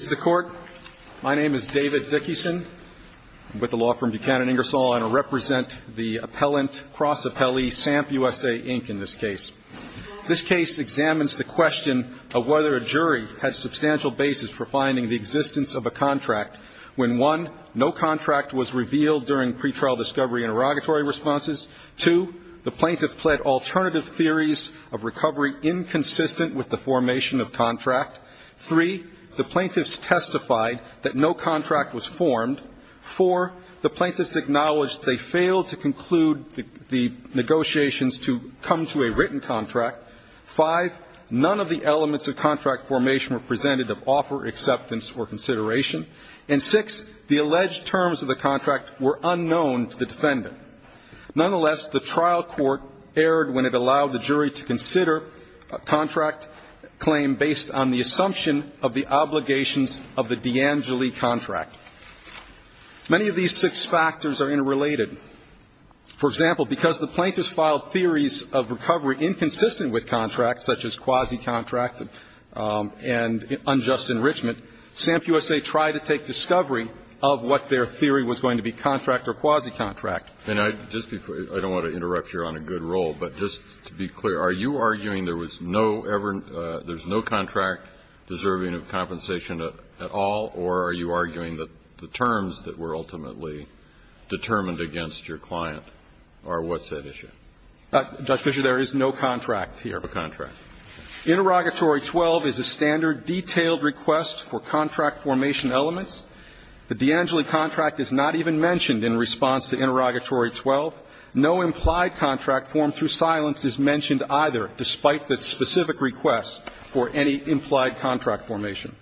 Mr. Court, my name is David Dickison. I'm with the law firm Buchanan Ingersoll, and I represent the appellant, cross-appellee, SAMP USA Inc. in this case. This case examines the question of whether a jury had substantial basis for finding the existence of a contract when, one, no contract was revealed during pretrial discovery and erogatory responses, two, the plaintiff pled alternative theories of recovery inconsistent with the formation of contract, three, the plaintiffs testified that no contract was formed, four, the plaintiffs acknowledged they failed to conclude the negotiations to come to a written contract, five, none of the elements of contract formation were presented of offer, acceptance, or consideration, and six, the alleged terms of the contract were unknown to the defendant. Nonetheless, the trial court erred when it allowed the jury to consider a contract claim based on the assumption of the obligations of the D'Angeli contract. Many of these six factors are interrelated. For example, because the plaintiffs filed theories of recovery inconsistent with contracts, such as quasi-contract and unjust enrichment, SAMP USA tried to take discovery of what their theory was going to be, contract or quasi-contract. Kennedy, I don't want to interrupt you on a good role, but just to be clear, are you arguing there was no ever no contract deserving of compensation at all, or are you arguing that the terms that were ultimately determined against your client are what's at issue? Fisher, there is no contract here. No contract. Interrogatory 12 is a standard detailed request for contract formation elements. The D'Angeli contract is not even mentioned in response to interrogatory 12. No implied contract formed through silence is mentioned either, despite the specific request for any implied contract formation.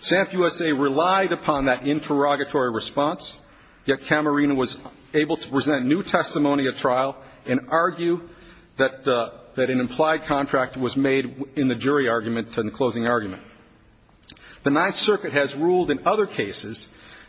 SAMP USA relied upon that interrogatory response, yet Camerina was able to present new testimony at trial and argue that an implied contract was made in the jury argument in the closing argument. The Ninth Circuit has ruled in other cases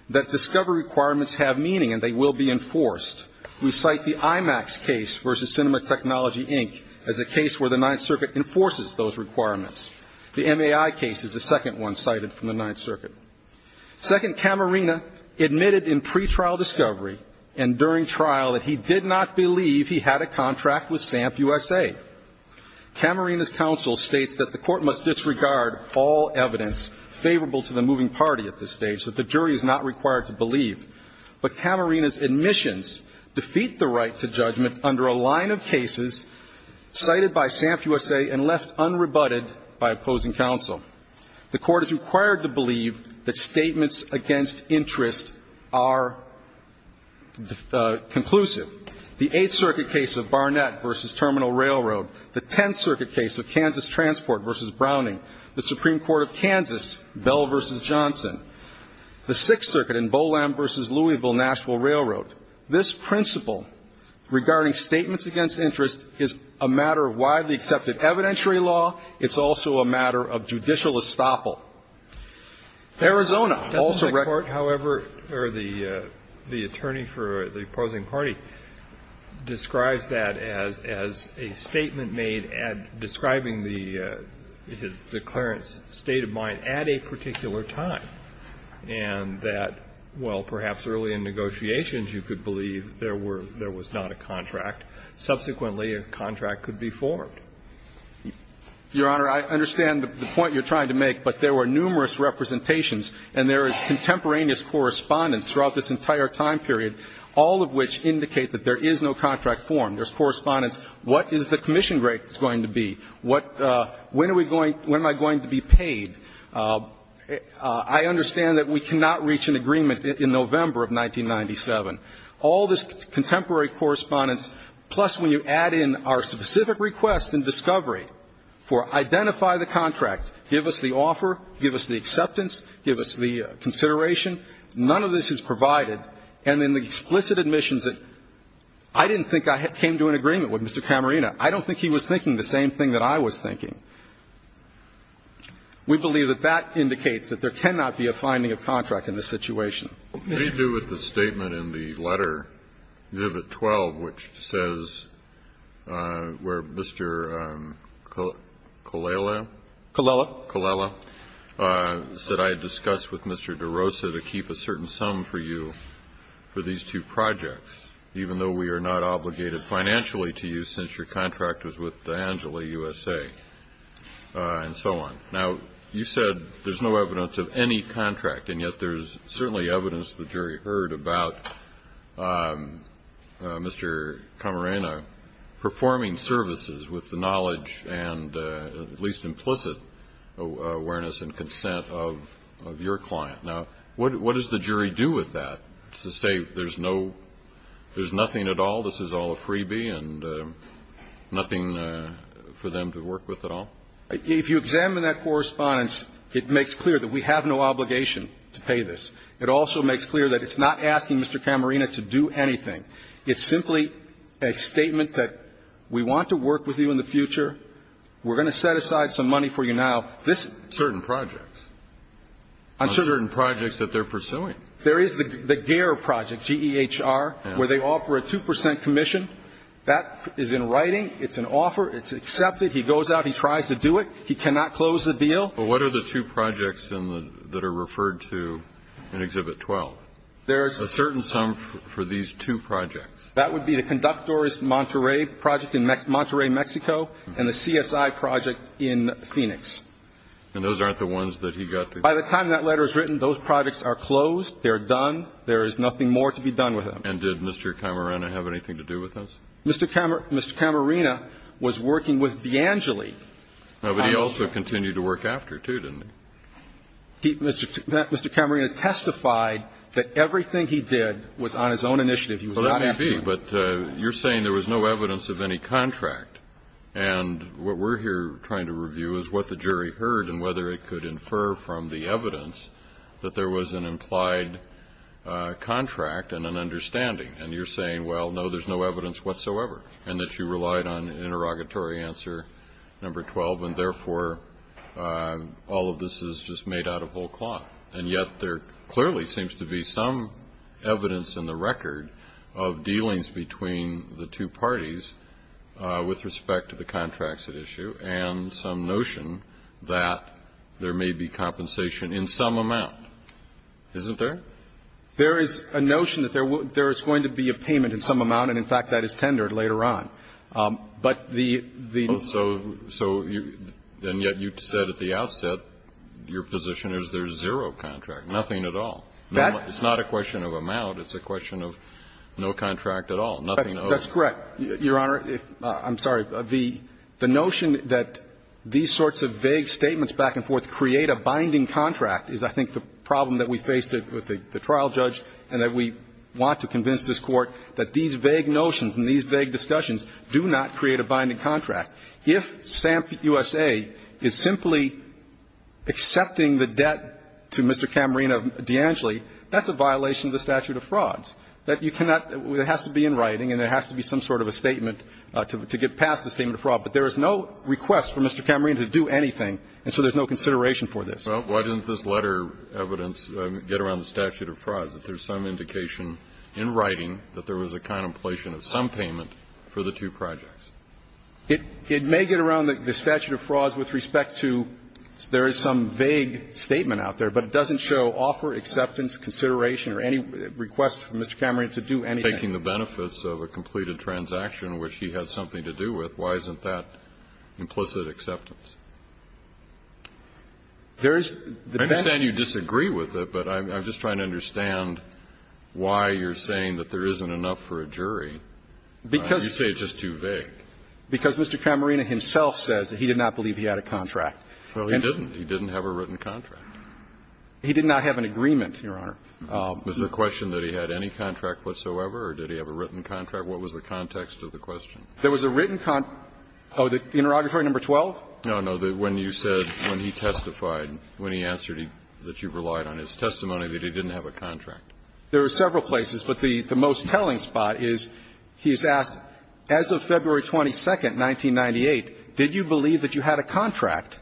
that discovery requirements have meaning and they will be enforced. We cite the IMAX case versus Cinema Technology, Inc. as a case where the Ninth Circuit enforces those requirements. The MAI case is the second one cited from the Ninth Circuit. Second, Camerina admitted in pretrial discovery and during trial that he did not believe he had a contract with SAMP USA. Camerina's counsel states that the Court must disregard all evidence favorable to the moving party at this stage that the jury is not required to believe. But Camerina's admissions defeat the right to judgment under a line of cases cited by SAMP USA and left unrebutted by opposing counsel. The Court is required to believe that statements against interest are conclusive. The Eighth Circuit case of Barnett v. Terminal Railroad. The Tenth Circuit case of Kansas Transport v. Browning. The Supreme Court of Kansas, Bell v. Johnson. The Sixth Circuit in Bolland v. Louisville-Nashville Railroad. This principle regarding statements against interest is a matter of widely accepted evidentiary law. It's also a matter of judicial estoppel. Arizona also recorded. However, the attorney for the opposing party describes that as a statement made describing the declarant's state of mind at a particular time and that, well, perhaps early in negotiations you could believe there was not a contract. Subsequently, a contract could be formed. Your Honor, I understand the point you're trying to make, but there were numerous representations and there is contemporaneous correspondence throughout this entire time period, all of which indicate that there is no contract formed. There's correspondence, what is the commission rate going to be? When are we going to be paid? I understand that we cannot reach an agreement in November of 1997. All this contemporary correspondence, plus when you add in our specific request and discovery for identify the contract, give us the offer, give us the acceptance, give us the consideration, none of this is provided. And in the explicit admissions that I didn't think I came to an agreement with Mr. Camerina. I don't think he was thinking the same thing that I was thinking. We believe that that indicates that there cannot be a finding of contract in this situation. Kennedy. What do you do with the statement in the letter, exhibit 12, which says where Mr. Colella. Colella. Said I discussed with Mr. DeRosa to keep a certain sum for you for these two projects, even though we are not obligated financially to you since your contract was with D'Angeli USA, and so on. Now, you said there's no evidence of any contract, and yet there's certainly evidence the jury heard about Mr. Camerina performing services with the knowledge and at least implicit awareness and consent of your client. Now, what does the jury do with that to say there's no, there's nothing at all, this is all a freebie and nothing for them to work with at all? If you examine that correspondence, it makes clear that we have no obligation to pay this. It also makes clear that it's not asking Mr. Camerina to do anything. It's simply a statement that we want to work with you in the future. We're going to set aside some money for you now. This is. Certain projects. Certain projects that they're pursuing. There is the GEHR project, G-E-H-R, where they offer a 2 percent commission. That is in writing. It's an offer. It's accepted. He goes out. He tries to do it. He cannot close the deal. But what are the two projects in the, that are referred to in Exhibit 12? There's. A certain sum for these two projects. That would be the Conductor's Monterey project in Monterey, Mexico, and the CSI project in Phoenix. And those aren't the ones that he got the. By the time that letter is written, those projects are closed. They're done. There is nothing more to be done with them. And did Mr. Camerina have anything to do with those? Mr. Camerina was working with D'Angeli. No, but he also continued to work after, too, didn't he? Mr. Camerina testified that everything he did was on his own initiative. He was not acting. Well, that may be. But you're saying there was no evidence of any contract. And what we're here trying to review is what the jury heard and whether it could infer from the evidence that there was an implied contract and an understanding. And you're saying, well, no, there's no evidence whatsoever, and that you relied on interrogatory answer number 12, and, therefore, all of this is just made out of whole cloth. And yet there clearly seems to be some evidence in the record of dealings between the two parties with respect to the contracts at issue and some notion that there may be compensation in some amount. Isn't there? There is a notion that there is going to be a payment in some amount, and, in fact, that is tendered later on. But the need to say that the outset, your position is there's zero contract, nothing at all. It's not a question of amount. It's a question of no contract at all, nothing at all. That's correct, Your Honor. I'm sorry. The notion that these sorts of vague statements back and forth create a binding contract is, I think, the problem that we faced with the trial judge and that we want to convince this Court that these vague notions and these vague discussions do not create a binding contract. If SAMHSA is simply accepting the debt to Mr. Camerino D'Angeli, that's a violation of the statute of frauds, that you cannot – it has to be in writing and it has to be some sort of a statement to get past the statement of fraud. But there is no request for Mr. Camerino to do anything, and so there's no consideration for this. Well, why didn't this letter of evidence get around the statute of frauds, that there's some indication in writing that there was a contemplation of some payment for the two projects? It may get around the statute of frauds with respect to there is some vague statement out there, but it doesn't show offer, acceptance, consideration, or any request for Mr. Camerino to do anything. Taking the benefits of a completed transaction which he had something to do with, why isn't that implicit acceptance? There is the benefit of that. I understand you disagree with it, but I'm just trying to understand why you're saying that there isn't enough for a jury. Because you say it's just too vague. Because Mr. Camerino himself says that he did not believe he had a contract. Well, he didn't. He didn't have a written contract. He did not have an agreement, Your Honor. Was the question that he had any contract whatsoever or did he have a written contract? What was the context of the question? There was a written con – oh, the interrogatory number 12? No, no. When you said, when he testified, when he answered that you've relied on his testimony, that he didn't have a contract. There are several places, but the most telling spot is he's asked, as of February 22nd, 1998, did you believe that you had a contract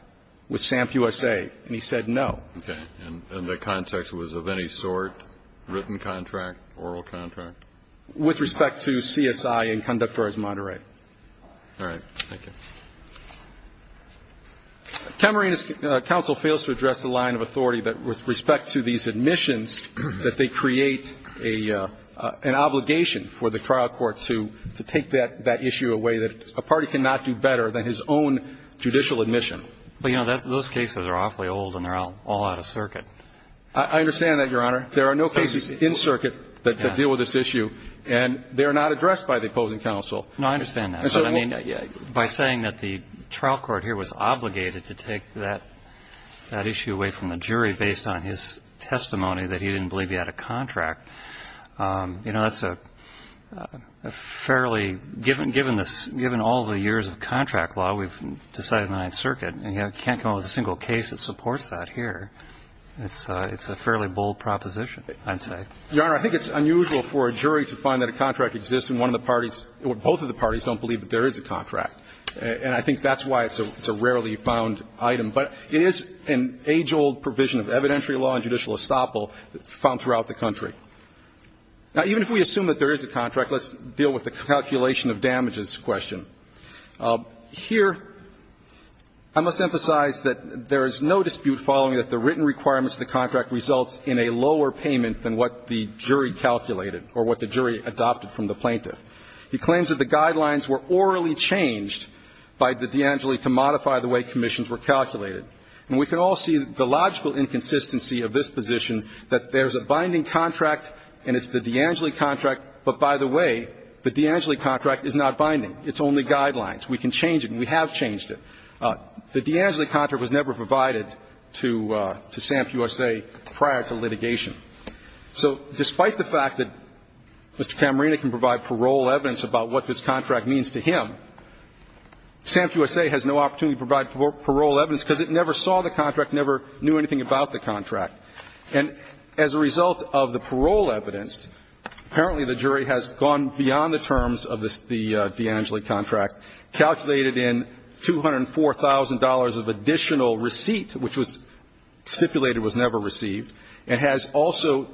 with SAMP USA? And he said no. Okay. And the context was of any sort, written contract, oral contract? With respect to CSI and Conductor as Monterey. All right. Thank you. Camerino's counsel fails to address the line of authority that with respect to these admissions, that they create an obligation for the trial court to take that issue away that a party cannot do better than his own judicial admission. But, you know, those cases are awfully old and they're all out of circuit. I understand that, Your Honor. There are no cases in circuit that deal with this issue and they're not addressed by the opposing counsel. No, I understand that. I mean, by saying that the trial court here was obligated to take that issue away from the jury based on his testimony that he didn't believe he had a contract, you know, that's a fairly – given all the years of contract law, we've decided in the Ninth Circuit, you can't come up with a single case that supports that here. It's a fairly bold proposition, I'd say. Your Honor, I think it's unusual for a jury to find that a contract exists and one of the parties – or both of the parties don't believe that there is a contract. And I think that's why it's a rarely found item. But it is an age-old provision of evidentiary law and judicial estoppel found throughout the country. Now, even if we assume that there is a contract, let's deal with the calculation of damages question. Here, I must emphasize that there is no dispute following that the written requirements of the contract results in a lower payment than what the jury calculated or what the jury adopted from the plaintiff. He claims that the guidelines were orally changed by the De Angeli to modify the way commissions were calculated. And we can all see the logical inconsistency of this position, that there's a binding contract and it's the De Angeli contract, but by the way, the De Angeli contract is not binding. It's only guidelines. We can change it and we have changed it. The De Angeli contract was never provided to SAMP USA prior to litigation. So despite the fact that Mr. Camarena can provide parole evidence about what this contract means to him, SAMP USA has no opportunity to provide parole evidence because it never saw the contract, never knew anything about the contract. And as a result of the parole evidence, apparently the jury has gone beyond the terms of the De Angeli contract, calculated in $204,000 of additional receipt, which was stipulated was never received, and has also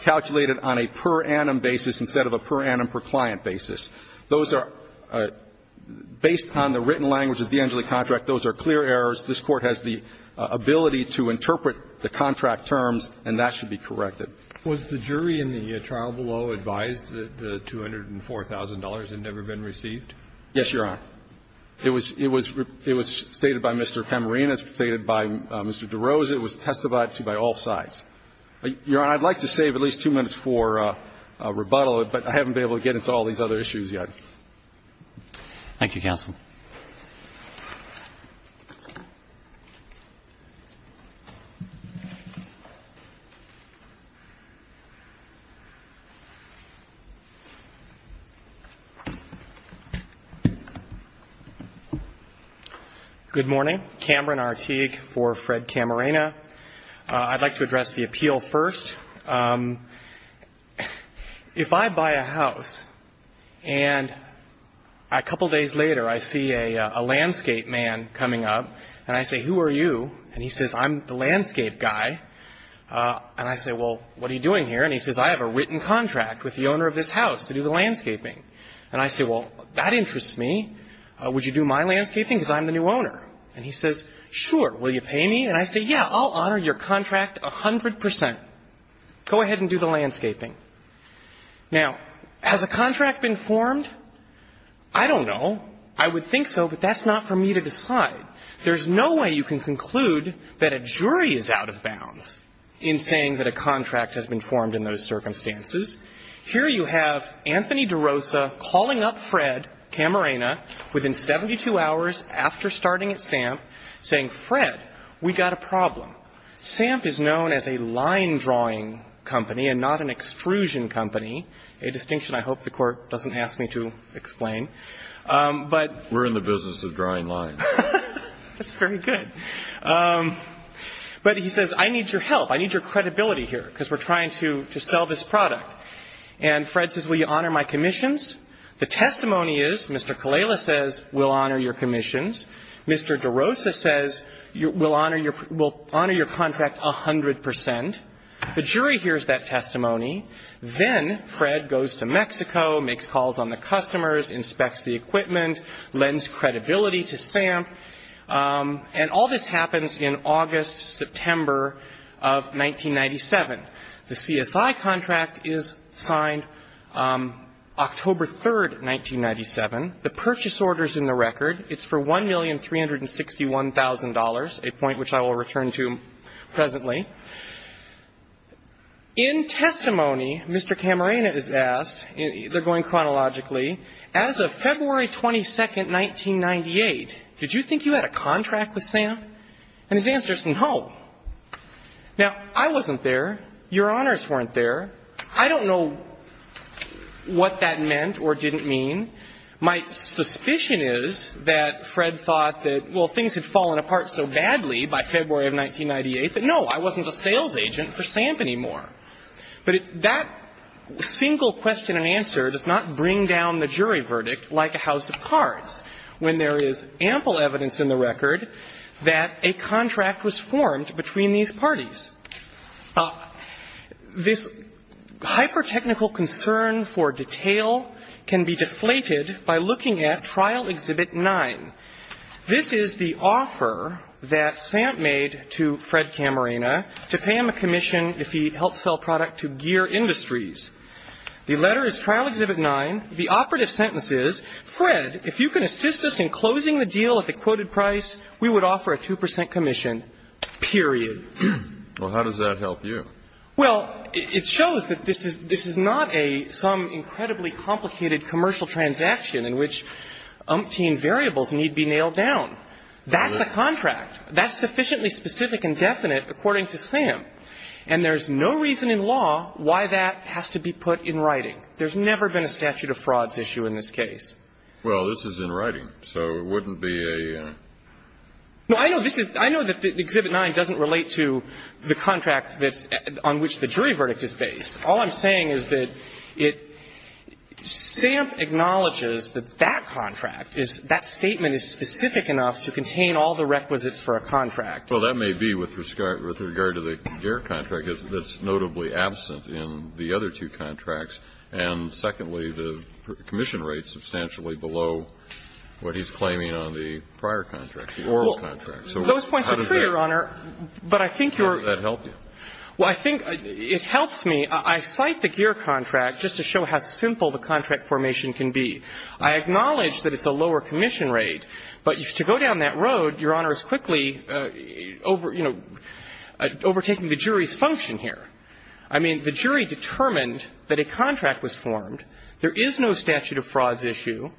calculated on a per annum basis instead of a per annum per client basis. Those are based on the written language of the De Angeli contract. Those are clear errors. This Court has the ability to interpret the contract terms and that should be corrected. Was the jury in the trial below advised that the $204,000 had never been received? Yes, Your Honor. It was stated by Mr. Camarena. It was stated by Mr. DeRose. It was testified to by all sides. Your Honor, I'd like to save at least two minutes for rebuttal, but I haven't been Thank you, counsel. Good morning. Cameron Arteague for Fred Camarena. I'd like to address the appeal first. If I buy a house and a couple days later I see a landscape man coming up and I say, who are you? And he says, I'm the landscape guy. And I say, well, what are you doing here? And he says, I have a written contract with the owner of this house to do the landscaping. And I say, well, that interests me. Would you do my landscaping because I'm the new owner? And he says, sure. Will you pay me? And I say, yeah, I'll honor your contract 100 percent. Go ahead and do the landscaping. Now, has a contract been formed? I don't know. I would think so, but that's not for me to decide. There's no way you can conclude that a jury is out of bounds in saying that a contract has been formed in those circumstances. Here you have Anthony DeRosa calling up Fred Camarena within 72 hours after starting at SAMP, saying, Fred, we've got a problem. SAMP is known as a line drawing company and not an extrusion company, a distinction I hope the Court doesn't ask me to explain. But we're in the business of drawing lines. That's very good. But he says, I need your help. I need your credibility here because we're trying to sell this product. And Fred says, will you honor my commissions? The testimony is, Mr. Kalela says, we'll honor your commissions. Mr. DeRosa says, we'll honor your contract 100 percent. The jury hears that testimony. Then Fred goes to Mexico, makes calls on the customers, inspects the equipment, lends credibility to SAMP, and all this happens in August, September of 1997. The CSI contract is signed October 3, 1997. The purchase order is in the record. It's for $1,361,000, a point which I will return to presently. In testimony, Mr. Camarena is asked, they're going chronologically, as of February 22, 1998, did you think you had a contract with SAMP? And his answer is no. Now, I wasn't there. Your honors weren't there. I don't know what that meant or didn't mean. My suspicion is that Fred thought that, well, things had fallen apart so badly by February of 1998 that, no, I wasn't a sales agent for SAMP anymore. But that single question and answer does not bring down the jury verdict like a house of cards, when there is ample evidence in the record that a contract was formed between these parties. This hyper-technical concern for detail can be deflated by looking at Trial Exhibit 9. This is the offer that SAMP made to Fred Camarena to pay him a commission if he helped sell product to Gear Industries. The letter is Trial Exhibit 9. The operative sentence is, Fred, if you can assist us in closing the deal at the quoted price, we would offer a 2 percent commission, period. Well, how does that help you? Well, it shows that this is not some incredibly complicated commercial transaction in which umpteen variables need be nailed down. That's a contract. That's sufficiently specific and definite according to SAMP. And there's no reason in law why that has to be put in writing. There's never been a statute of frauds issue in this case. Well, this is in writing. So it wouldn't be a... No, I know this is, I know that Exhibit 9 doesn't relate to the contract that's, on which the jury verdict is based. All I'm saying is that it, SAMP acknowledges that that contract is, that statement is specific enough to contain all the requisites for a contract. Well, that may be with regard to the Gear contract that's notably absent in the other two contracts. And secondly, the commission rate's substantially below what he's claiming on the prior contract, the oral contract. So how does that... Those points are true, Your Honor. But I think you're... How does that help you? Well, I think it helps me. I cite the Gear contract just to show how simple the contract formation can be. I acknowledge that it's a lower commission rate. But to go down that road, Your Honor is quickly over, you know, overtaking the jury's function here. I mean, the jury determined that a contract was formed. There is no statute of frauds issue.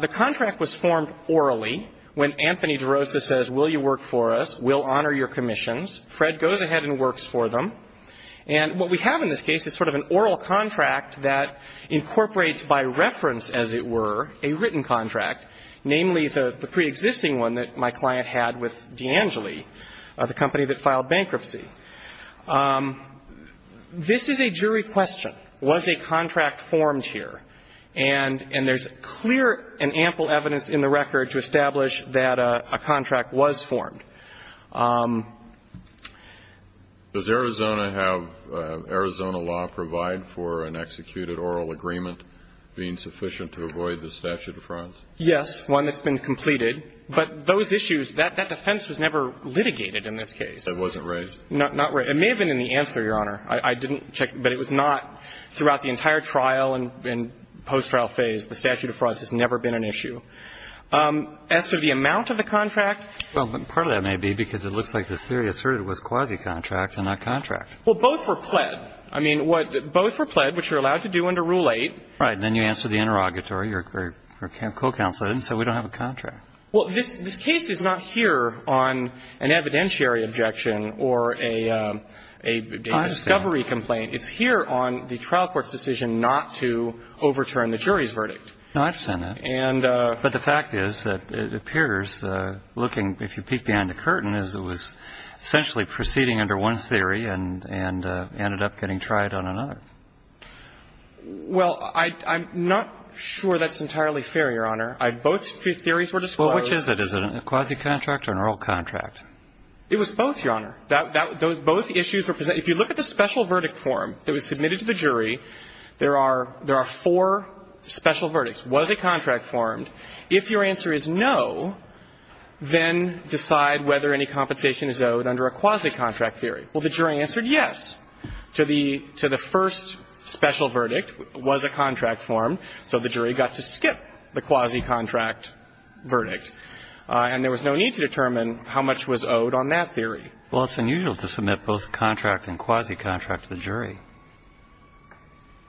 The contract was formed orally. When Anthony DeRosa says, will you work for us, we'll honor your commissions, Fred goes ahead and works for them. And what we have in this case is sort of an oral contract that incorporates by reference, as it were, a written contract, namely the preexisting one that my client had with D'Angeli, the company that filed bankruptcy. This is a jury question. Was a contract formed here? And there's clear and ample evidence in the record to establish that a contract was formed. Does Arizona have, Arizona law provide for an executed oral agreement being sufficient to avoid the statute of frauds? Yes. One that's been completed. But those issues, that defense was never litigated in this case. It wasn't raised? Not raised. It may have been in the answer, Your Honor. I didn't check. But it was not throughout the entire trial and post-trial phase. The statute of frauds has never been an issue. As to the amount of the contract? Well, part of that may be because it looks like the theory asserted was quasi-contract and not contract. Well, both were pled. I mean, both were pled, which you're allowed to do under Rule 8. Right. And then you answer the interrogatory. Your co-counselor didn't say we don't have a contract. Well, this case is not here on an evidentiary objection or a discovery complaint. I understand. It's here on the trial court's decision not to overturn the jury's verdict. No, I understand that. But the fact is that it appears, looking, if you peek behind the curtain, as it was essentially proceeding under one theory and ended up getting tried on another. Well, I'm not sure that's entirely fair, Your Honor. Both theories were disclosed. Well, which is it? Is it a quasi-contract or an oral contract? It was both, Your Honor. Both issues were presented. If you look at the special verdict form that was submitted to the jury, there are four special verdicts. Was a contract formed? If your answer is no, then decide whether any compensation is owed under a quasi-contract theory. Well, the jury answered yes to the first special verdict. Was a contract formed. So the jury got to skip the quasi-contract verdict. And there was no need to determine how much was owed on that theory. Well, it's unusual to submit both contract and quasi-contract to the jury.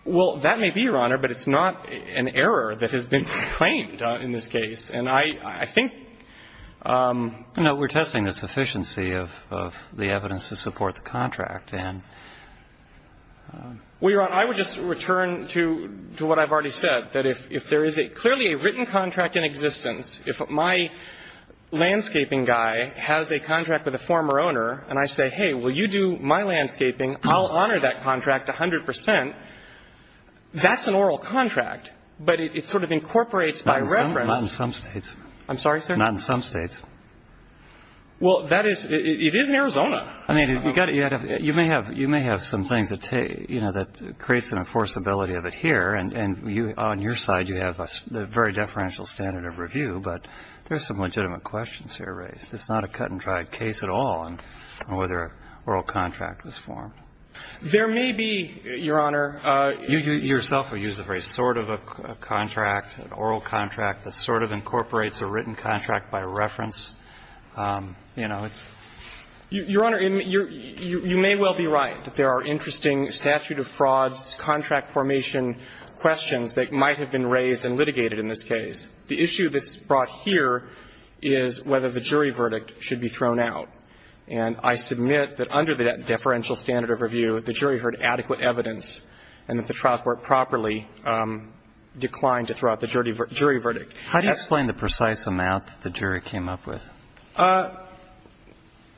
Well, that may be, Your Honor, but it's not an error that has been claimed in this case. And I think we're testing the sufficiency of the evidence to support the contract. Well, Your Honor, I would just return to what I've already said, that if there is clearly a written contract in existence, if my landscaping guy has a contract with a former owner and I say, hey, will you do my landscaping, I'll honor that contract 100 percent, that's an oral contract. But it sort of incorporates by reference. Not in some states. I'm sorry, sir? Not in some states. Well, that is, it is in Arizona. I mean, you may have some things that create some enforceability of it here. And on your side, you have a very deferential standard of review. But there are some legitimate questions here raised. It's not a cut-and-dried case at all on whether an oral contract was formed. There may be, Your Honor. You yourself have used a very sort of a contract, an oral contract, that sort of incorporates a written contract by reference. Your Honor, you may well be right that there are interesting statute of frauds, contract formation questions that might have been raised and litigated in this case. The issue that's brought here is whether the jury verdict should be thrown out. And I submit that under that deferential standard of review, the jury heard adequate evidence and that the trial court properly declined to throw out the jury verdict. How do you explain the precise amount that the jury came up with?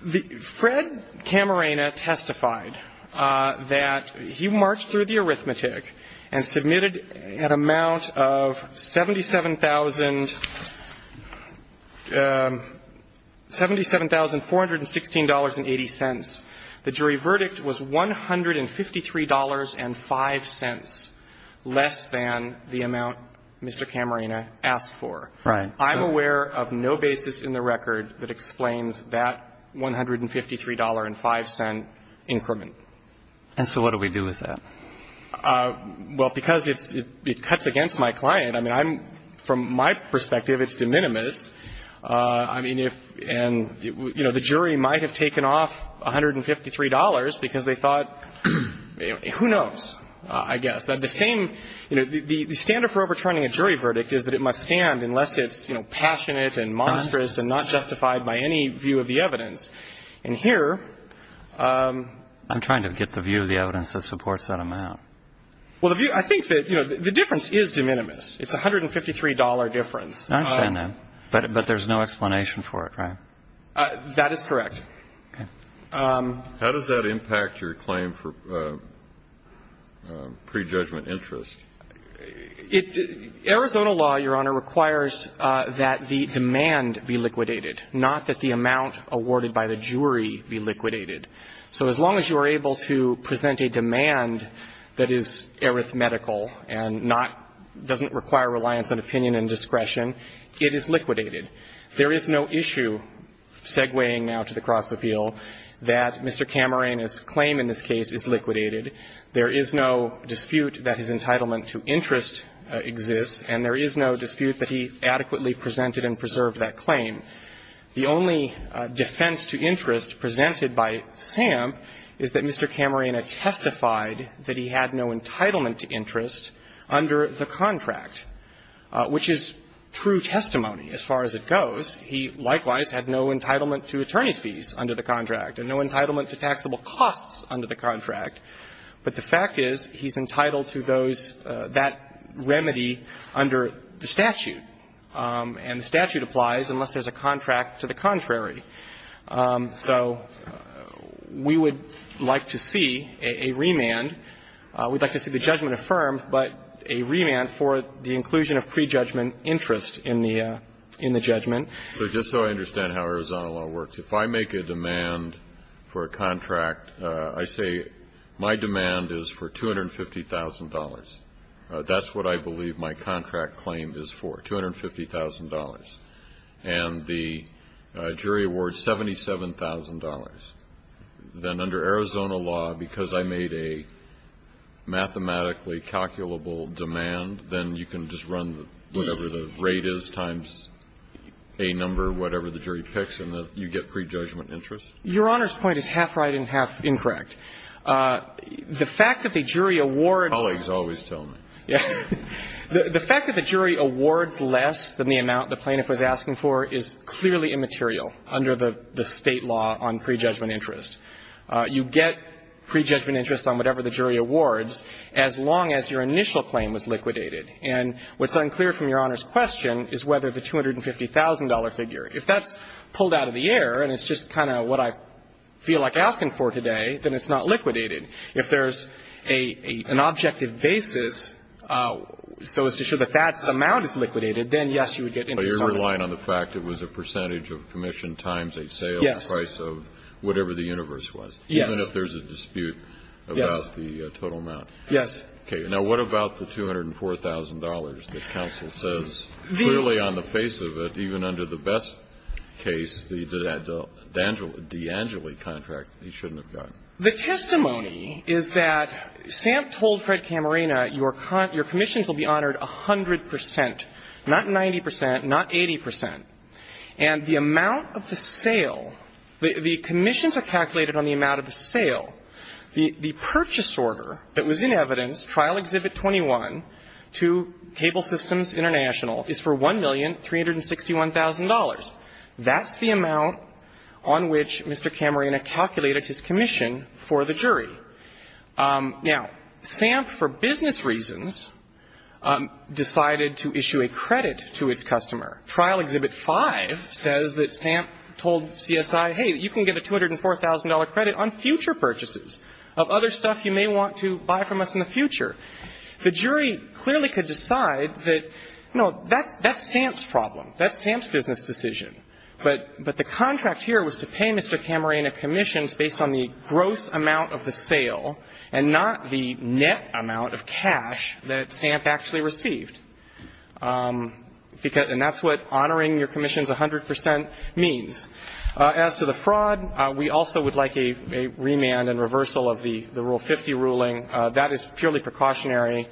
Fred Camarena testified that he marched through the arithmetic and submitted an amount of $77,416.80. The jury verdict was $153.05, less than the amount Mr. Camarena asked for. Right. I'm aware of no basis in the record that explains that $153.05 increment. And so what do we do with that? Well, because it cuts against my client. I mean, from my perspective, it's de minimis. I mean, if and, you know, the jury might have taken off $153 because they thought who knows, I guess. The same, you know, the standard for overturning a jury verdict is that it must stand unless it's, you know, passionate and monstrous and not justified by any view of the evidence. And here. I'm trying to get the view of the evidence that supports that amount. Well, I think that, you know, the difference is de minimis. It's a $153 difference. I understand that. But there's no explanation for it, right? That is correct. Okay. How does that impact your claim for prejudgment interest? Arizona law, Your Honor, requires that the demand be liquidated, not that the amount awarded by the jury be liquidated. So as long as you are able to present a demand that is arithmetical and not doesn't require reliance on opinion and discretion, it is liquidated. There is no issue segueing now to the cross-appeal that Mr. Camarena's claim in this case is liquidated. There is no dispute that his entitlement to interest exists, and there is no dispute that he adequately presented and preserved that claim. The only defense to interest presented by Sam is that Mr. Camarena testified that he had no entitlement to interest under the contract, which is true testimony as far as it goes. He likewise had no entitlement to attorney's fees under the contract and no entitlement to taxable costs under the contract. But the fact is, he's entitled to those, that remedy under the statute. And the statute applies unless there's a contract to the contrary. So we would like to see a remand. We'd like to see the judgment affirmed, but a remand for the inclusion of prejudgment interest in the judgment. But just so I understand how Arizona law works, if I make a demand for a contract, I say my demand is for $250,000. That's what I believe my contract claim is for, $250,000. And the jury awards $77,000. Then under Arizona law, because I made a mathematically calculable demand, then you can just run whatever the rate is times a number, whatever the jury picks, and you get prejudgment interest? Your Honor's point is half right and half incorrect. The fact that the jury awards. Colleagues always tell me. The fact that the jury awards less than the amount the plaintiff was asking for is clearly immaterial under the State law on prejudgment interest. You get prejudgment interest on whatever the jury awards as long as your initial claim was liquidated. And what's unclear from Your Honor's question is whether the $250,000 figure, if that's pulled out of the air and it's just kind of what I feel like asking for today, then it's not liquidated. If there's an objective basis so as to show that that amount is liquidated, then, yes, you would get interest on it. But you're relying on the fact it was a percentage of commission times a sale. Yes. The price of whatever the universe was. Yes. Even if there's a dispute about the total amount. Yes. Okay. Now, what about the $204,000 that counsel says clearly on the face of it, even under the best case, the DeAngeli contract, he shouldn't have gotten? The testimony is that Sam told Fred Camarena, your commissions will be honored 100 percent, not 90 percent, not 80 percent. And the amount of the sale, the commissions are calculated on the amount of the sale. The purchase order that was in evidence, Trial Exhibit 21 to Cable Systems International, is for $1,361,000. That's the amount on which Mr. Camarena calculated his commission for the jury. Now, Sam, for business reasons, decided to issue a credit to his customer. Trial Exhibit 5 says that Sam told CSI, hey, you can get a $204,000 credit on future purchases of other stuff you may want to buy from us in the future. The jury clearly could decide that, you know, that's Sam's problem. That's Sam's business decision. But the contract here was to pay Mr. Camarena commissions based on the gross amount of the sale and not the net amount of cash that Sam actually received. And that's what honoring your commissions 100 percent means. As to the fraud, we also would like a remand and reversal of the Rule 50 ruling. That is purely precautionary.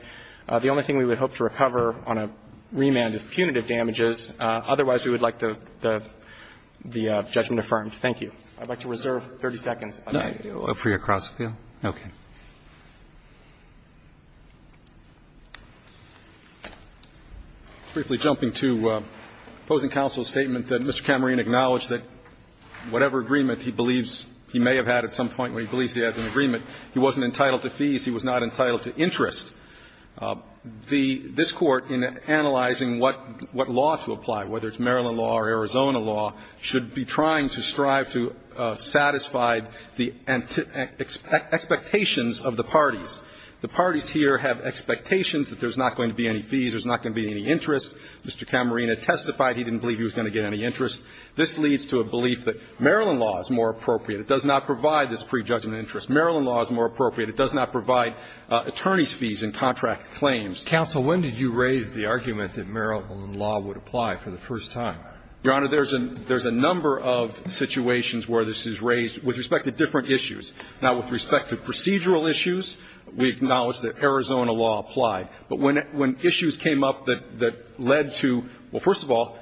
The only thing we would hope to recover on a remand is punitive damages. Otherwise, we would like the judgment affirmed. Thank you. I'd like to reserve 30 seconds. Roberts. For your cross appeal? Okay. Briefly jumping to opposing counsel's statement that Mr. Camarena acknowledged that whatever agreement he believes he may have had at some point when he believes he has an agreement, he wasn't entitled to fees. He was not entitled to interest. This Court, in analyzing what law to apply, whether it's Maryland law or Arizona law, should be trying to strive to satisfy the expectations of the parties. The parties here have expectations that there's not going to be any fees, there's not going to be any interest. Mr. Camarena testified he didn't believe he was going to get any interest. This leads to a belief that Maryland law is more appropriate. It does not provide this prejudgment interest. Maryland law is more appropriate. It does not provide attorney's fees in contract claims. Counsel, when did you raise the argument that Maryland law would apply for the first time? Your Honor, there's a number of situations where this is raised with respect to different issues. Now, with respect to procedural issues, we acknowledge that Arizona law applied. But when issues came up that led to, well, first of all,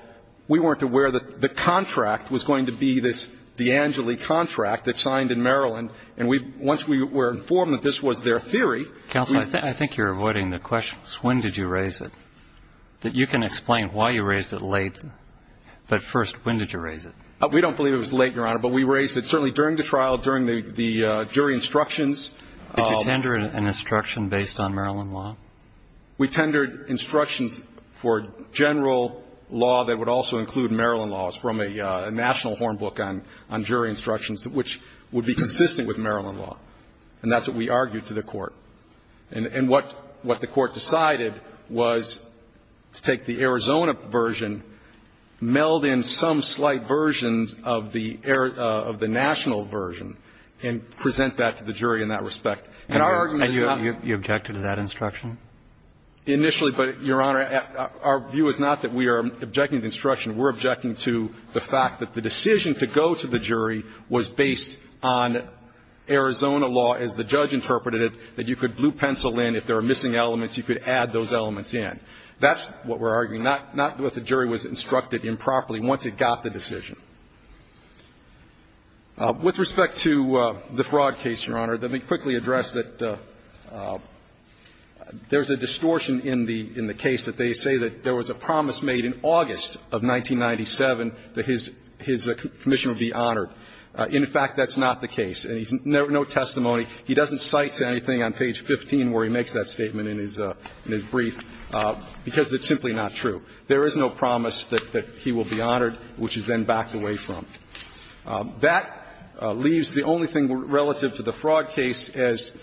we weren't aware that the contract was going to be this D'Angeli contract that's signed in Maryland. And once we were informed that this was their theory. Counsel, I think you're avoiding the question. When did you raise it? You can explain why you raised it late. But first, when did you raise it? We don't believe it was late, Your Honor. But we raised it certainly during the trial, during the jury instructions. Did you tender an instruction based on Maryland law? We tendered instructions for general law that would also include Maryland laws from a national horn book on jury instructions, which would be consistent with Maryland law. And that's what we argued to the Court. And what the Court decided was to take the Arizona version, meld in some slight versions of the national version, and present that to the jury in that respect. And our argument is not You objected to that instruction? Initially. But, Your Honor, our view is not that we are objecting to the instruction. We're objecting to the fact that the decision to go to the jury was based on Arizona law, as the judge interpreted it, that you could blue pencil in. If there are missing elements, you could add those elements in. That's what we're arguing, not that the jury was instructed improperly once it got the decision. With respect to the fraud case, Your Honor, let me quickly address that there's a distortion in the case that they say that there was a promise made in August of 1997 that his commission would be honored. In fact, that's not the case. And there's no testimony. He doesn't cite to anything on page 15 where he makes that statement in his brief because it's simply not true. There is no promise that he will be honored, which is then backed away from. That leaves the only thing relative to the fraud case as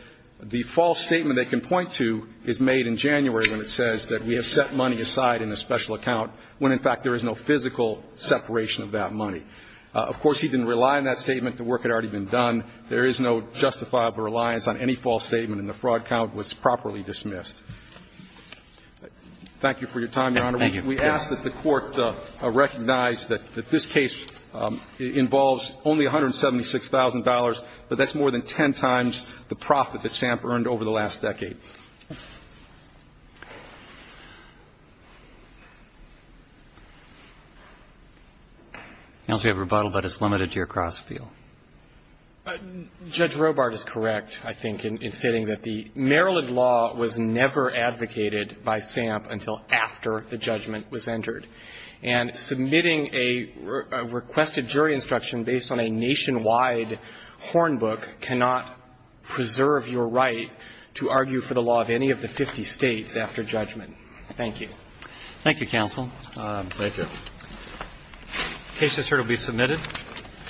the false statement they can cite in January when it says that we have set money aside in a special account when, in fact, there is no physical separation of that money. Of course, he didn't rely on that statement. The work had already been done. There is no justifiable reliance on any false statement, and the fraud count was properly dismissed. Thank you for your time, Your Honor. We ask that the Court recognize that this case involves only $176,000, but that's more than 10 times the profit that Samp earned over the last decade. Counsel, you have rebuttal, but it's limited to your cross-appeal. Judge Robart is correct, I think, in stating that the Maryland law was never advocated by Samp until after the judgment was entered. And submitting a requested jury instruction based on a nationwide horn book cannot preserve your right to argue for the law of any of the 50 States after judgment. Thank you. Thank you, Counsel. Thank you. The case is here to be submitted.